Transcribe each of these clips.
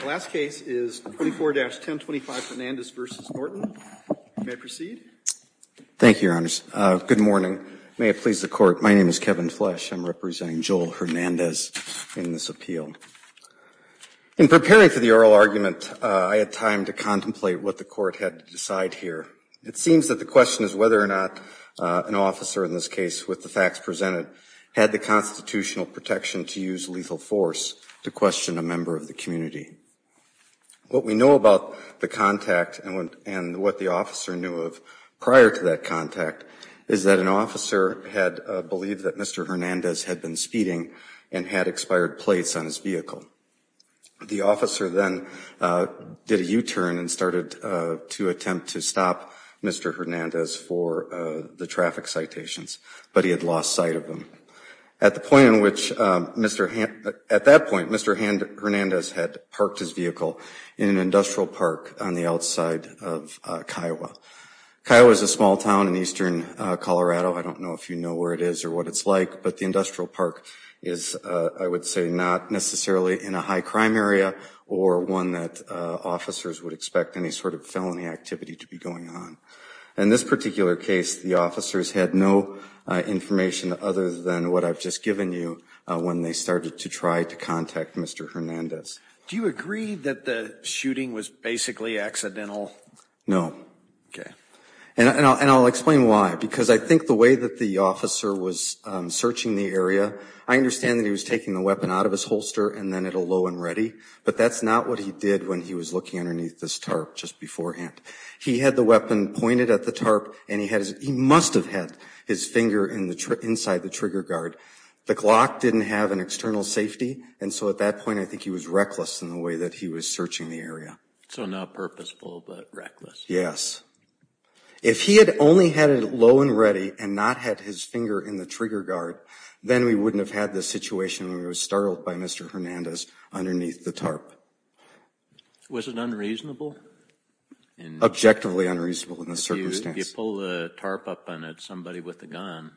The last case is 24-1025 Hernandez v. Norton. May I proceed? Thank you, Your Honors. Good morning. May it please the Court, my name is Kevin Flesch. I'm representing Joel Hernandez in this appeal. In preparing for the oral argument, I had time to contemplate what the Court had to decide here. It seems that the question is whether or not an officer in this case, with the facts presented, had the constitutional protection to use lethal force. To question a member of the community. What we know about the contact and what the officer knew of prior to that contact is that an officer had believed that Mr. Hernandez had been speeding and had expired plates on his vehicle. The officer then did a U-turn and started to attempt to stop Mr. Hernandez for the traffic citations, but he had lost sight of them. At that point, Mr. Hernandez had parked his vehicle in an industrial park on the outside of Kiowa. Kiowa is a small town in eastern Colorado, I don't know if you know where it is or what it's like, but the industrial park is, I would say, not necessarily in a high crime area or one that officers would expect any sort of felony activity to be going on. In this particular case, the officers had no information other than what I've just given you when they started to try to contact Mr. Hernandez. Do you agree that the shooting was basically accidental? No. Okay. And I'll explain why, because I think the way that the officer was searching the area, I understand that he was taking the weapon out of his holster and then at a low and ready, but that's not what he did when he was looking underneath this tarp just beforehand. He had the weapon pointed at the tarp, and he must have had his finger inside the trigger guard. The Glock didn't have an external safety, and so at that point, I think he was reckless in the way that he was searching the area. So not purposeful, but reckless. Yes. If he had only had it low and ready and not had his finger in the trigger guard, then we wouldn't have had this situation when we were startled by Mr. Hernandez underneath the tarp. Was it unreasonable? Objectively unreasonable in this circumstance. If you pull the tarp up on somebody with a gun,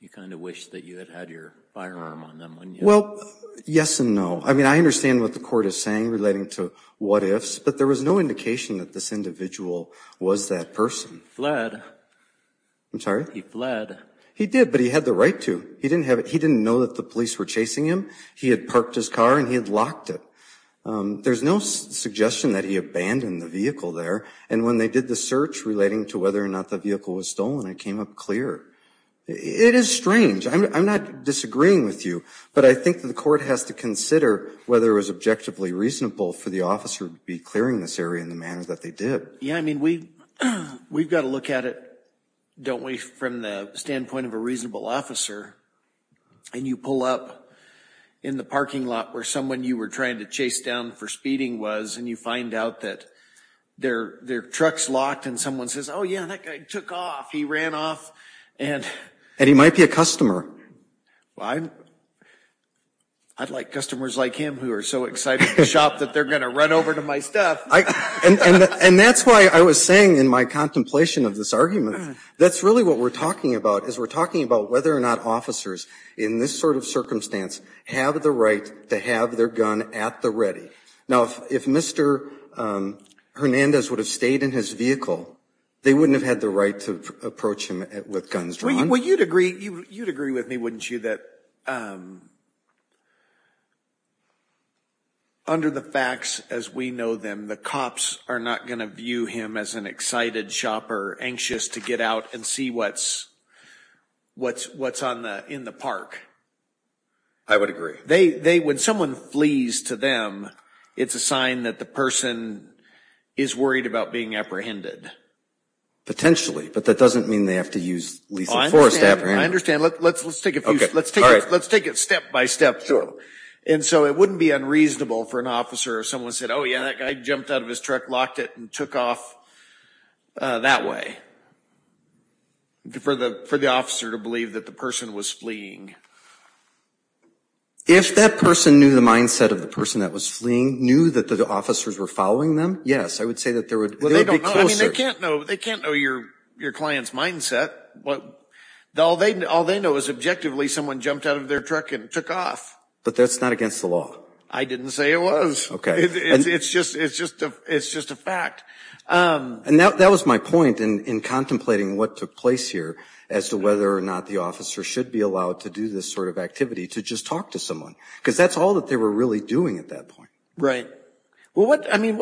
you kind of wish that you had had your firearm on them, wouldn't you? Well, yes and no. I mean, I understand what the court is saying relating to what ifs, but there was no indication that this individual was that person. I'm sorry? He fled. He did, but he had the right to. He didn't know that the police were chasing him. He had parked his car, and he had locked it. There's no suggestion that he abandoned the vehicle there. And when they did the search relating to whether or not the vehicle was stolen, it came up clear. It is strange. I'm not disagreeing with you, but I think that the court has to consider whether it was objectively reasonable for the officer to be clearing this area in the manner that they did. Yeah, I mean, we've got to look at it, don't we, from the standpoint of a reasonable officer, and you pull up in the parking lot where someone you were trying to chase down for speeding was, and you find out that their truck's locked, and someone says, yeah, that guy took off. He ran off, and- And he might be a customer. Well, I'd like customers like him who are so excited to shop that they're going to run over to my stuff. And that's why I was saying in my contemplation of this argument, that's really what we're talking about, is we're talking about whether or not officers in this sort of circumstance have the right to have their gun at the ready. Now, if Mr. Hernandez would have stayed in his vehicle, they wouldn't have had the right to approach him with guns drawn. Well, you'd agree with me, wouldn't you, that under the facts as we know them, the cops are not going to view him as an excited shopper, anxious to get out and see what's in the park. I would agree. When someone flees to them, it's a sign that the person is worried about being apprehended. Potentially, but that doesn't mean they have to use lethal force to apprehend them. I understand, let's take it step by step. And so it wouldn't be unreasonable for an officer if someone said, yeah, that guy jumped out of his truck, locked it, and took off that way, for the officer to believe that the person was fleeing. If that person knew the mindset of the person that was fleeing, knew that the officers were following them, yes, I would say that there would be closer. Well, they don't know, I mean, they can't know your client's mindset. All they know is objectively someone jumped out of their truck and took off. But that's not against the law. I didn't say it was. Okay. It's just a fact. And that was my point in contemplating what took place here, as to whether or not the officer should be allowed to do this sort of activity, to just talk to someone. Because that's all that they were really doing at that point. Right. Well, I mean,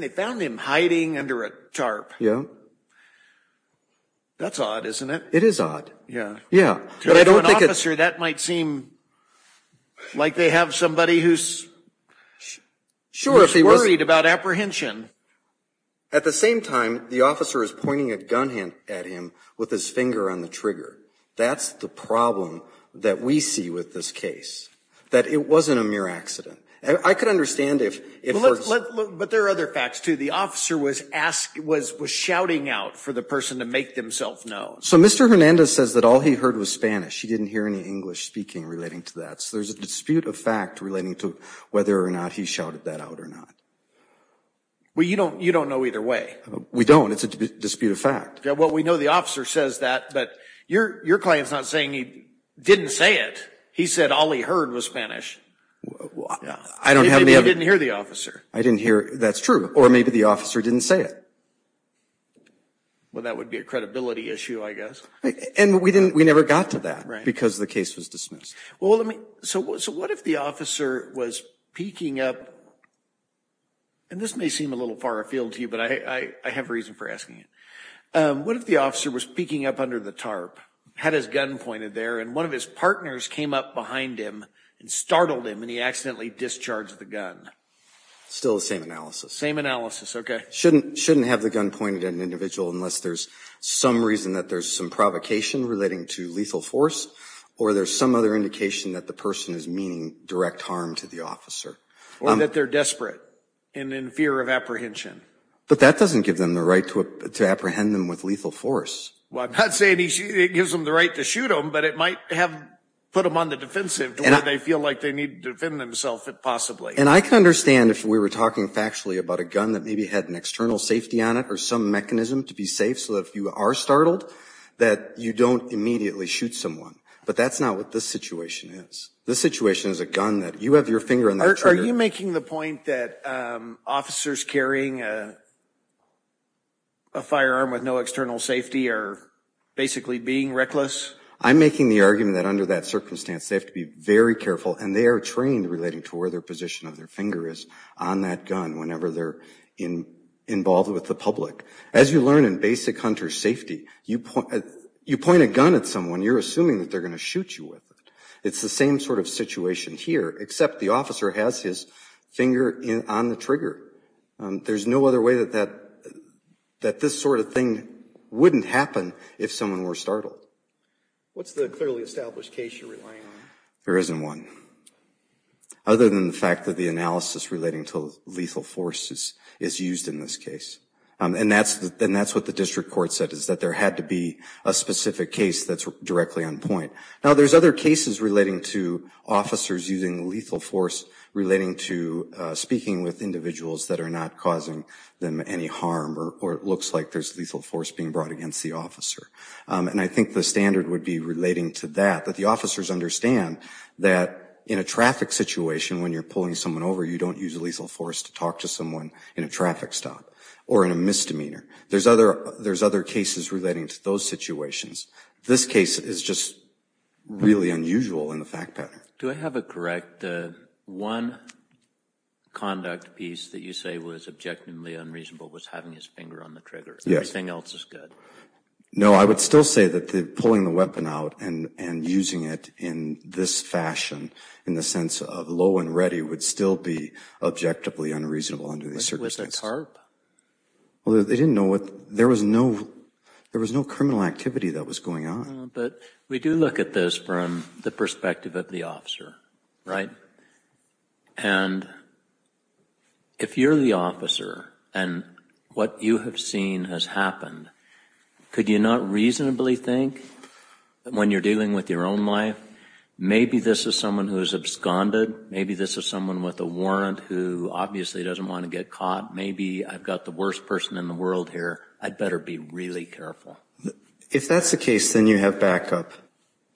they found him hiding under a tarp. Yeah. That's odd, isn't it? It is odd. Yeah. To an officer, that might seem like they have somebody who's worried about apprehension. At the same time, the officer is pointing a gun at him with his finger on the trigger. That's the problem that we see with this case, that it wasn't a mere accident. I could understand if- But there are other facts, too. The officer was shouting out for the person to make themselves known. So, Mr. Hernandez says that all he heard was Spanish. He didn't hear any English speaking relating to that. So, there's a dispute of fact relating to whether or not he shouted that out or not. Well, you don't know either way. We don't. It's a dispute of fact. Yeah. Well, we know the officer says that, but your client's not saying he didn't say it. He said all he heard was Spanish. I don't have any- Maybe he didn't hear the officer. I didn't hear- That's true. Or maybe the officer didn't say it. Well, that would be a credibility issue, I guess. And we didn't- We never got to that because the case was dismissed. Well, let me- So, what if the officer was peeking up- And this may seem a little far afield to you, but I have reason for asking it. What if the officer was peeking up under the tarp, had his gun pointed there, and one of his partners came up behind him and startled him, and he accidentally discharged the gun? Still the same analysis. Same analysis. Okay. Shouldn't have the gun pointed at an individual unless there's some reason that there's some provocation relating to lethal force, or there's some other indication that the person is meaning direct harm to the officer. Or that they're desperate and in fear of apprehension. But that doesn't give them the right to apprehend them with lethal force. Well, I'm not saying it gives them the right to shoot him, but it might have put them on the defensive to where they feel like they need to defend themselves, if possibly. And I can understand if we were talking factually about a gun that maybe had an external safety on it, or some mechanism to be safe so that if you are startled, that you don't immediately shoot someone. But that's not what this situation is. This situation is a gun that you have your finger on the trigger- Are you making the point that officers carrying a firearm with no external safety are basically being reckless? I'm making the argument that under that circumstance, they have to be very careful, and they are trained relating to where their position of their finger is on that gun whenever they're involved with the public. As you learn in basic hunter safety, you point a gun at someone, you're assuming that they're going to shoot you with it. It's the same sort of situation here, except the officer has his finger on the trigger. There's no other way that this sort of thing wouldn't happen if someone were startled. What's the clearly established case you're relying on? There isn't one. Other than the fact that the analysis relating to lethal forces is used in this case. And that's what the district court said, is that there had to be a specific case that's directly on point. Now, there's other cases relating to officers using lethal force relating to speaking with individuals that are not causing them any harm, or it looks like there's lethal force being brought against the officer. And I think the standard would be relating to that, that the officers understand that in a traffic situation, when you're pulling someone over, you don't use lethal force to talk to someone in a traffic stop, or in a misdemeanor. There's other cases relating to those situations. This case is just really unusual in the fact pattern. Do I have it correct, the one conduct piece that you say was objectively unreasonable was having his finger on the trigger? Yes. Everything else is good? No, I would still say that the pulling the weapon out and using it in this fashion, in the sense of low and ready, would still be objectively unreasonable under these circumstances. With a tarp? Well, they didn't know what, there was no, there was no criminal activity that was going on. But we do look at this from the perspective of the officer, right? And if you're the officer, and what you have seen has happened, could you not reasonably think that when you're dealing with your own life, maybe this is someone who is absconded, maybe this is someone with a warrant who obviously doesn't want to get caught, maybe I've got the worst person in the world here, I'd better be really careful. If that's the case, then you have backup.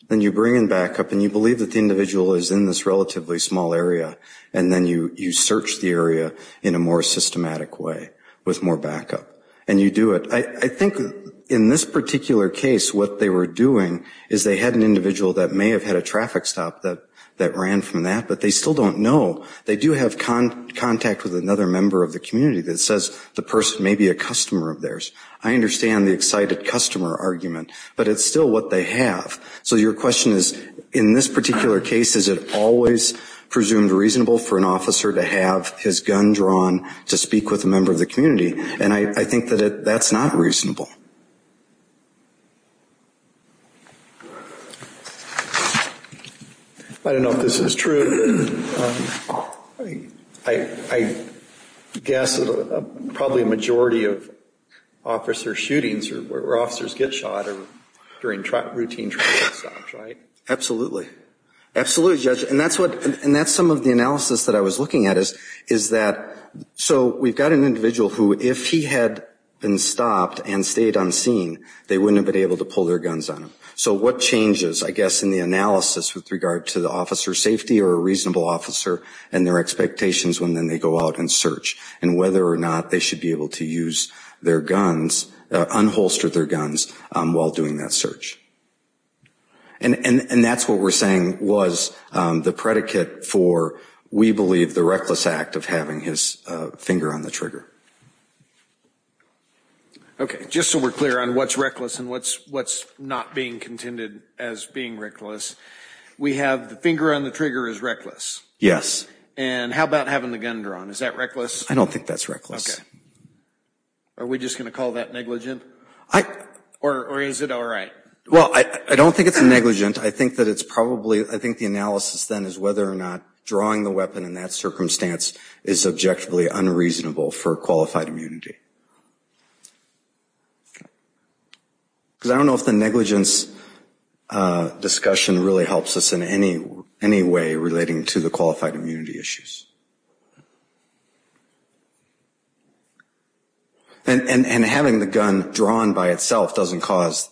Then you bring in backup, and you believe that the individual is in this relatively small area, and then you search the area in a more systematic way, with more backup, and you do it. I think in this particular case, what they were doing, is they had an individual that may have had a traffic stop that ran from that, but they still don't know. They do have contact with another member of the community that says the person may be a customer of theirs. I understand the excited customer argument, but it's still what they have. So your question is, in this particular case, is it always presumed reasonable for an officer to have his gun drawn to speak with a member of the community? And I think that that's not reasonable. I don't know if this is true, I guess probably a majority of officer shootings or where officers get shot are during routine traffic stops, right? Absolutely. Absolutely, Judge. And that's some of the analysis that I was looking at, is that, so we've got an individual who, if he had been stopped and stayed unseen, they wouldn't have been able to pull their guns on him. So what changes, I guess, in the analysis with regard to the officer's safety, or a reasonable officer, and their expectations when they go out and search, and whether or not they should be able to use their guns, unholster their guns, while doing that search. And that's what we're saying was the predicate for, we believe, the reckless act of having his finger on the trigger. Okay, just so we're clear on what's reckless and what's not being contended as being reckless, we have the finger on the trigger is reckless. Yes. And how about having the gun drawn, is that reckless? I don't think that's reckless. Okay. Are we just going to call that negligent? Or is it all right? Well, I don't think it's negligent. I think that it's probably, I think the analysis then is whether or not drawing the weapon in that circumstance is subjectively unreasonable for qualified immunity. Because I don't know if the negligence discussion really helps us in any way relating to the qualified immunity issues. And having the gun drawn by itself doesn't cause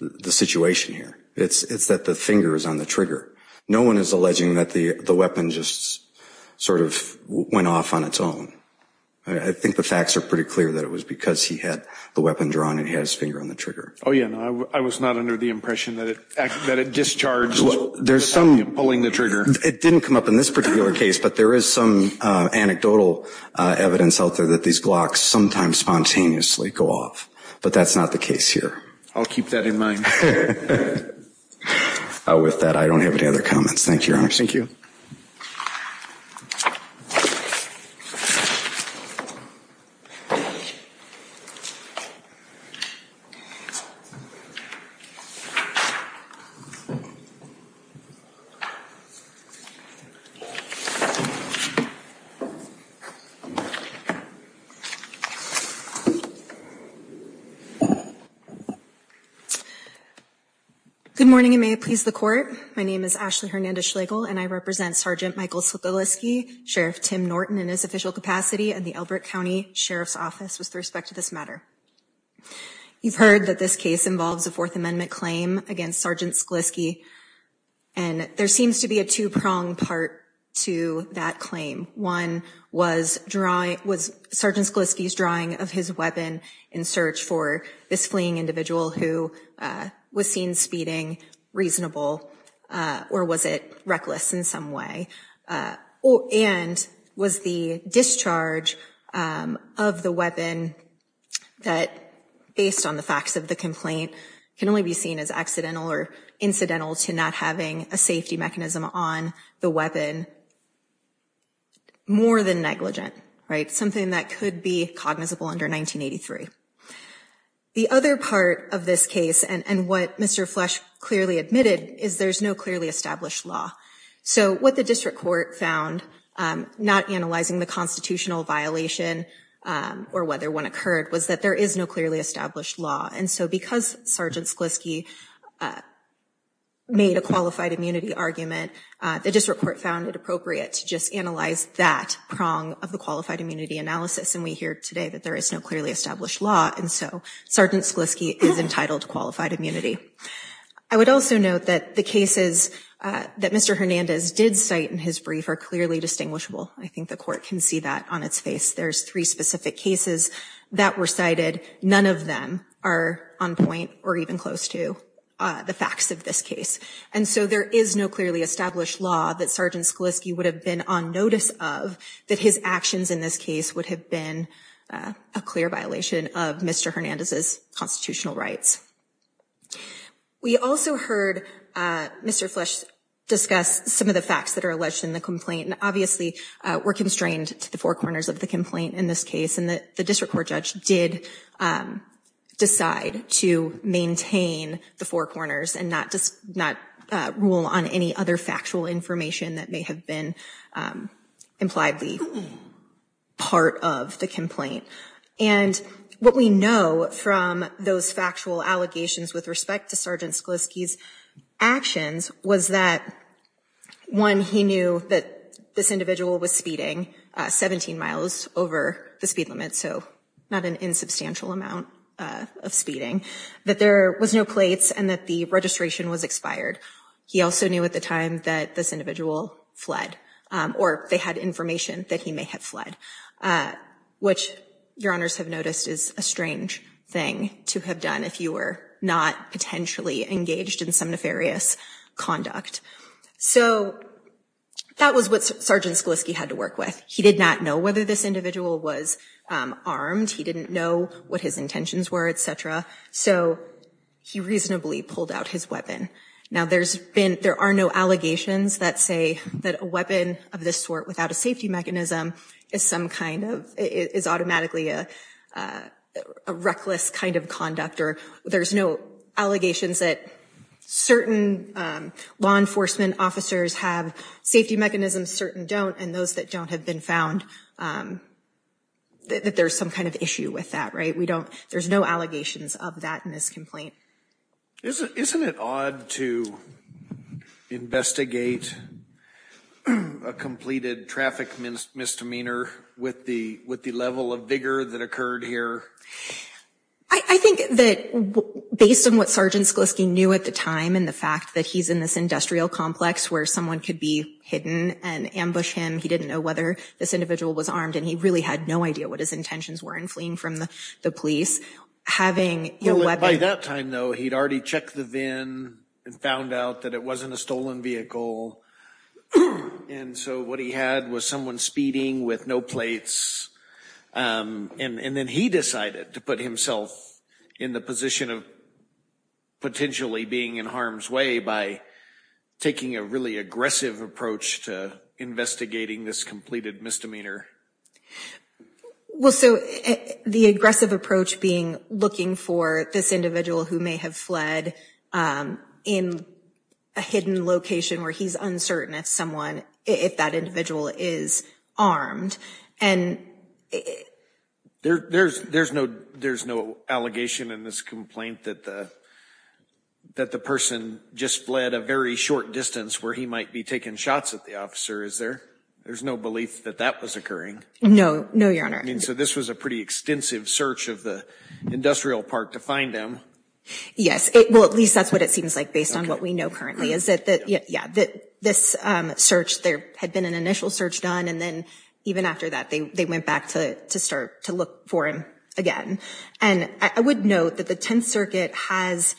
the situation here. It's that the finger is on the trigger. No one is alleging that the weapon just sort of went off on its own. I think the facts are pretty clear that it was because he had the weapon drawn and he had his finger on the trigger. Oh yeah, I was not under the impression that it discharged without him pulling the trigger. It didn't come up in this particular case, but there is some anecdotal evidence out there that these glocks sometimes spontaneously go off. But that's not the case here. I'll keep that in mind. With that, I don't have any other comments. Thank you, Your Honor. Thank you. Good morning and may it please the court. My name is Ashley Hernandez-Schlegel and I represent Sgt. Michael Sklisky, Sheriff Tim Norton in his official capacity and the Elbert County Sheriff's Office with respect to this matter. You've heard that this case involves a Fourth Amendment claim against Sgt. Sklisky and there seems to be a two-pronged part to that claim. One, was Sgt. Sklisky's drawing of his weapon in search for this fleeing individual who was seen speeding reasonable or was it reckless in some way? And was the discharge of the weapon that, based on the facts of the complaint, can only be seen as accidental or incidental to not having a safety mechanism on the weapon more than negligent, right? Something that could be cognizable under 1983. The other part of this case and what Mr. Flesch clearly admitted is there's no clearly established law. So what the district court found, not analyzing the constitutional violation or whether one occurred, was that there is no clearly established law. And so because Sgt. Sklisky made a qualified immunity argument, the district court found it appropriate to just analyze that prong of the qualified immunity analysis. And we hear today that there is no clearly established law and so Sgt. Sklisky is entitled to qualified immunity. I would also note that the cases that Mr. Hernandez did cite in his brief are clearly distinguishable. I think the court can see that on its face. There's three specific cases that were cited. None of them are on point or even close to the facts of this case. And so there is no clearly established law that Sgt. Sklisky would have been on notice of that his actions in this case would have been a clear violation of Mr. Hernandez's constitutional rights. We also heard Mr. Flesch discuss some of the facts that are alleged in the complaint. And obviously we're constrained to the four corners of the complaint in this case. And the district court judge did decide to maintain the four corners and not rule on any other factual information that may have been impliedly part of the complaint. And what we know from those factual allegations with respect to Sgt. Sklisky's actions was that one, he knew that this individual was speeding 17 miles over the speed limit. So not an insubstantial amount of speeding. That there was no plates and that the registration was expired. He also knew at the time that this individual fled or they had information that he may have fled. Which your honors have noticed is a strange thing to have done if you were not potentially engaged in some nefarious conduct. So that was what Sgt. Sklisky had to work with. He did not know whether this individual was armed. He didn't know what his intentions were, etc. So he reasonably pulled out his weapon. Now there are no allegations that say that a weapon of this sort without a safety mechanism is automatically a reckless kind of conduct. There's no allegations that certain law enforcement officers have safety mechanisms, certain don't. And those that don't have been found, that there's some kind of issue with that. There's no allegations of that in this complaint. Isn't it odd to investigate a completed traffic misdemeanor with the level of vigor that occurred here? I think that based on what Sgt. Sklisky knew at the time and the fact that he's in this industrial complex where someone could be hidden and ambush him. He didn't know whether this individual was armed and he really had no idea what his intentions were in fleeing from the police. By that time, though, he'd already checked the VIN and found out that it wasn't a stolen vehicle. And so what he had was someone speeding with no plates. And then he decided to put himself in the position of potentially being in harm's way by taking a really aggressive approach to investigating this completed misdemeanor. Well, so the aggressive approach being looking for this individual who may have fled in a hidden location where he's uncertain if that individual is armed. There's no allegation in this complaint that the person just fled a very short distance where he might be taking shots at the officer, is there? There's no belief that that was occurring? No, no, Your Honor. I mean, so this was a pretty extensive search of the industrial park to find him? Yes. Well, at least that's what it seems like based on what we know currently is that this search, there had been an initial search done. And then even after that, they went back to start to look for him again. And I would note that the Tenth Circuit has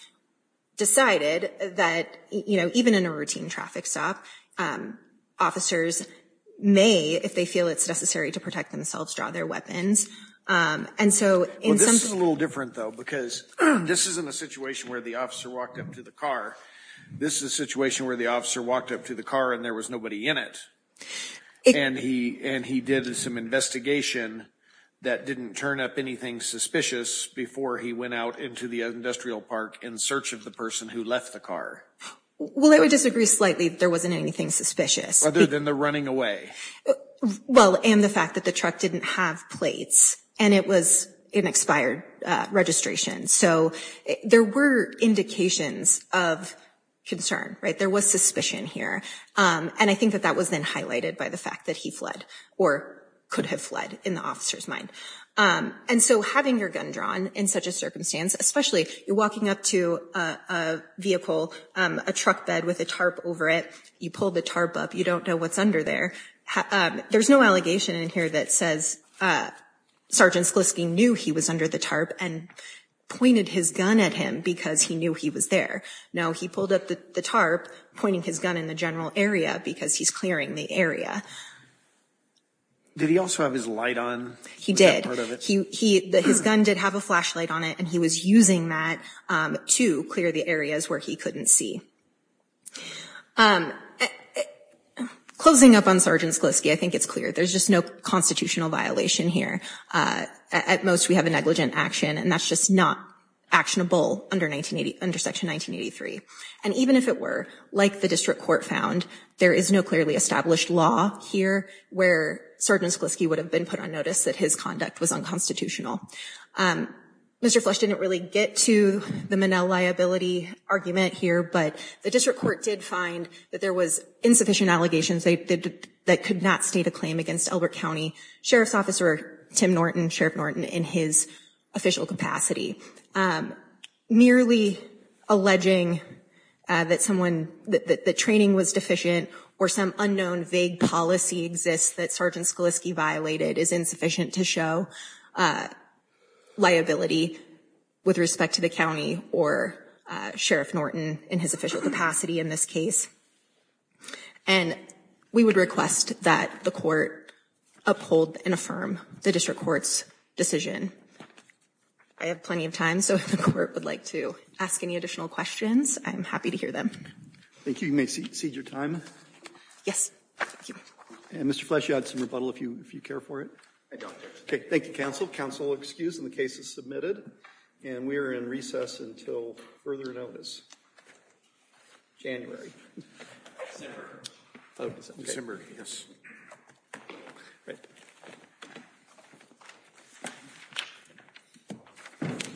decided that, you know, even in a routine traffic stop, officers may, if they feel it's necessary to protect themselves, draw their weapons. Well, this is a little different, though, because this isn't a situation where the officer walked up to the car. This is a situation where the officer walked up to the car and there was nobody in it. And he did some investigation that didn't turn up anything suspicious before he went out into the industrial park in search of the person who left the car. Well, I would disagree slightly that there wasn't anything suspicious. Other than the running away. Well, and the fact that the truck didn't have plates and it was in expired registration. So there were indications of concern, right? There was suspicion here. And I think that that was then highlighted by the fact that he fled or could have fled in the officer's mind. And so having your gun drawn in such a circumstance, especially you're walking up to a vehicle, a truck bed with a tarp over it. You pull the tarp up. You don't know what's under there. There's no allegation in here that says Sergeant Sklisky knew he was under the tarp and pointed his gun at him because he knew he was there. No, he pulled up the tarp pointing his gun in the general area because he's clearing the area. Did he also have his light on? He did. His gun did have a flashlight on it and he was using that to clear the areas where he couldn't see. Closing up on Sergeant Sklisky, I think it's clear. There's just no constitutional violation here. At most, we have a negligent action, and that's just not actionable under Section 1983. And even if it were, like the district court found, there is no clearly established law here where Sergeant Sklisky would have been put on notice that his conduct was unconstitutional. Mr. Flesch didn't really get to the Monell liability argument here, but the district court did find that there was insufficient allegations that could not state a claim against Elbert County. Sheriff's Officer Tim Norton, Sheriff Norton in his official capacity. Merely alleging that someone, that the training was deficient or some unknown vague policy exists that Sergeant Sklisky violated is insufficient to show liability with respect to the county or Sheriff Norton in his official capacity in this case. And we would request that the court uphold and affirm the district court's decision. I have plenty of time, so if the court would like to ask any additional questions, I'm happy to hear them. Thank you. You may cede your time. Yes. Thank you. And Mr. Flesch, you had some rebuttal if you care for it. I don't. Okay. Thank you, counsel. Counsel excused and the case is submitted. And we are in recess until further notice. January. December. December. Yes.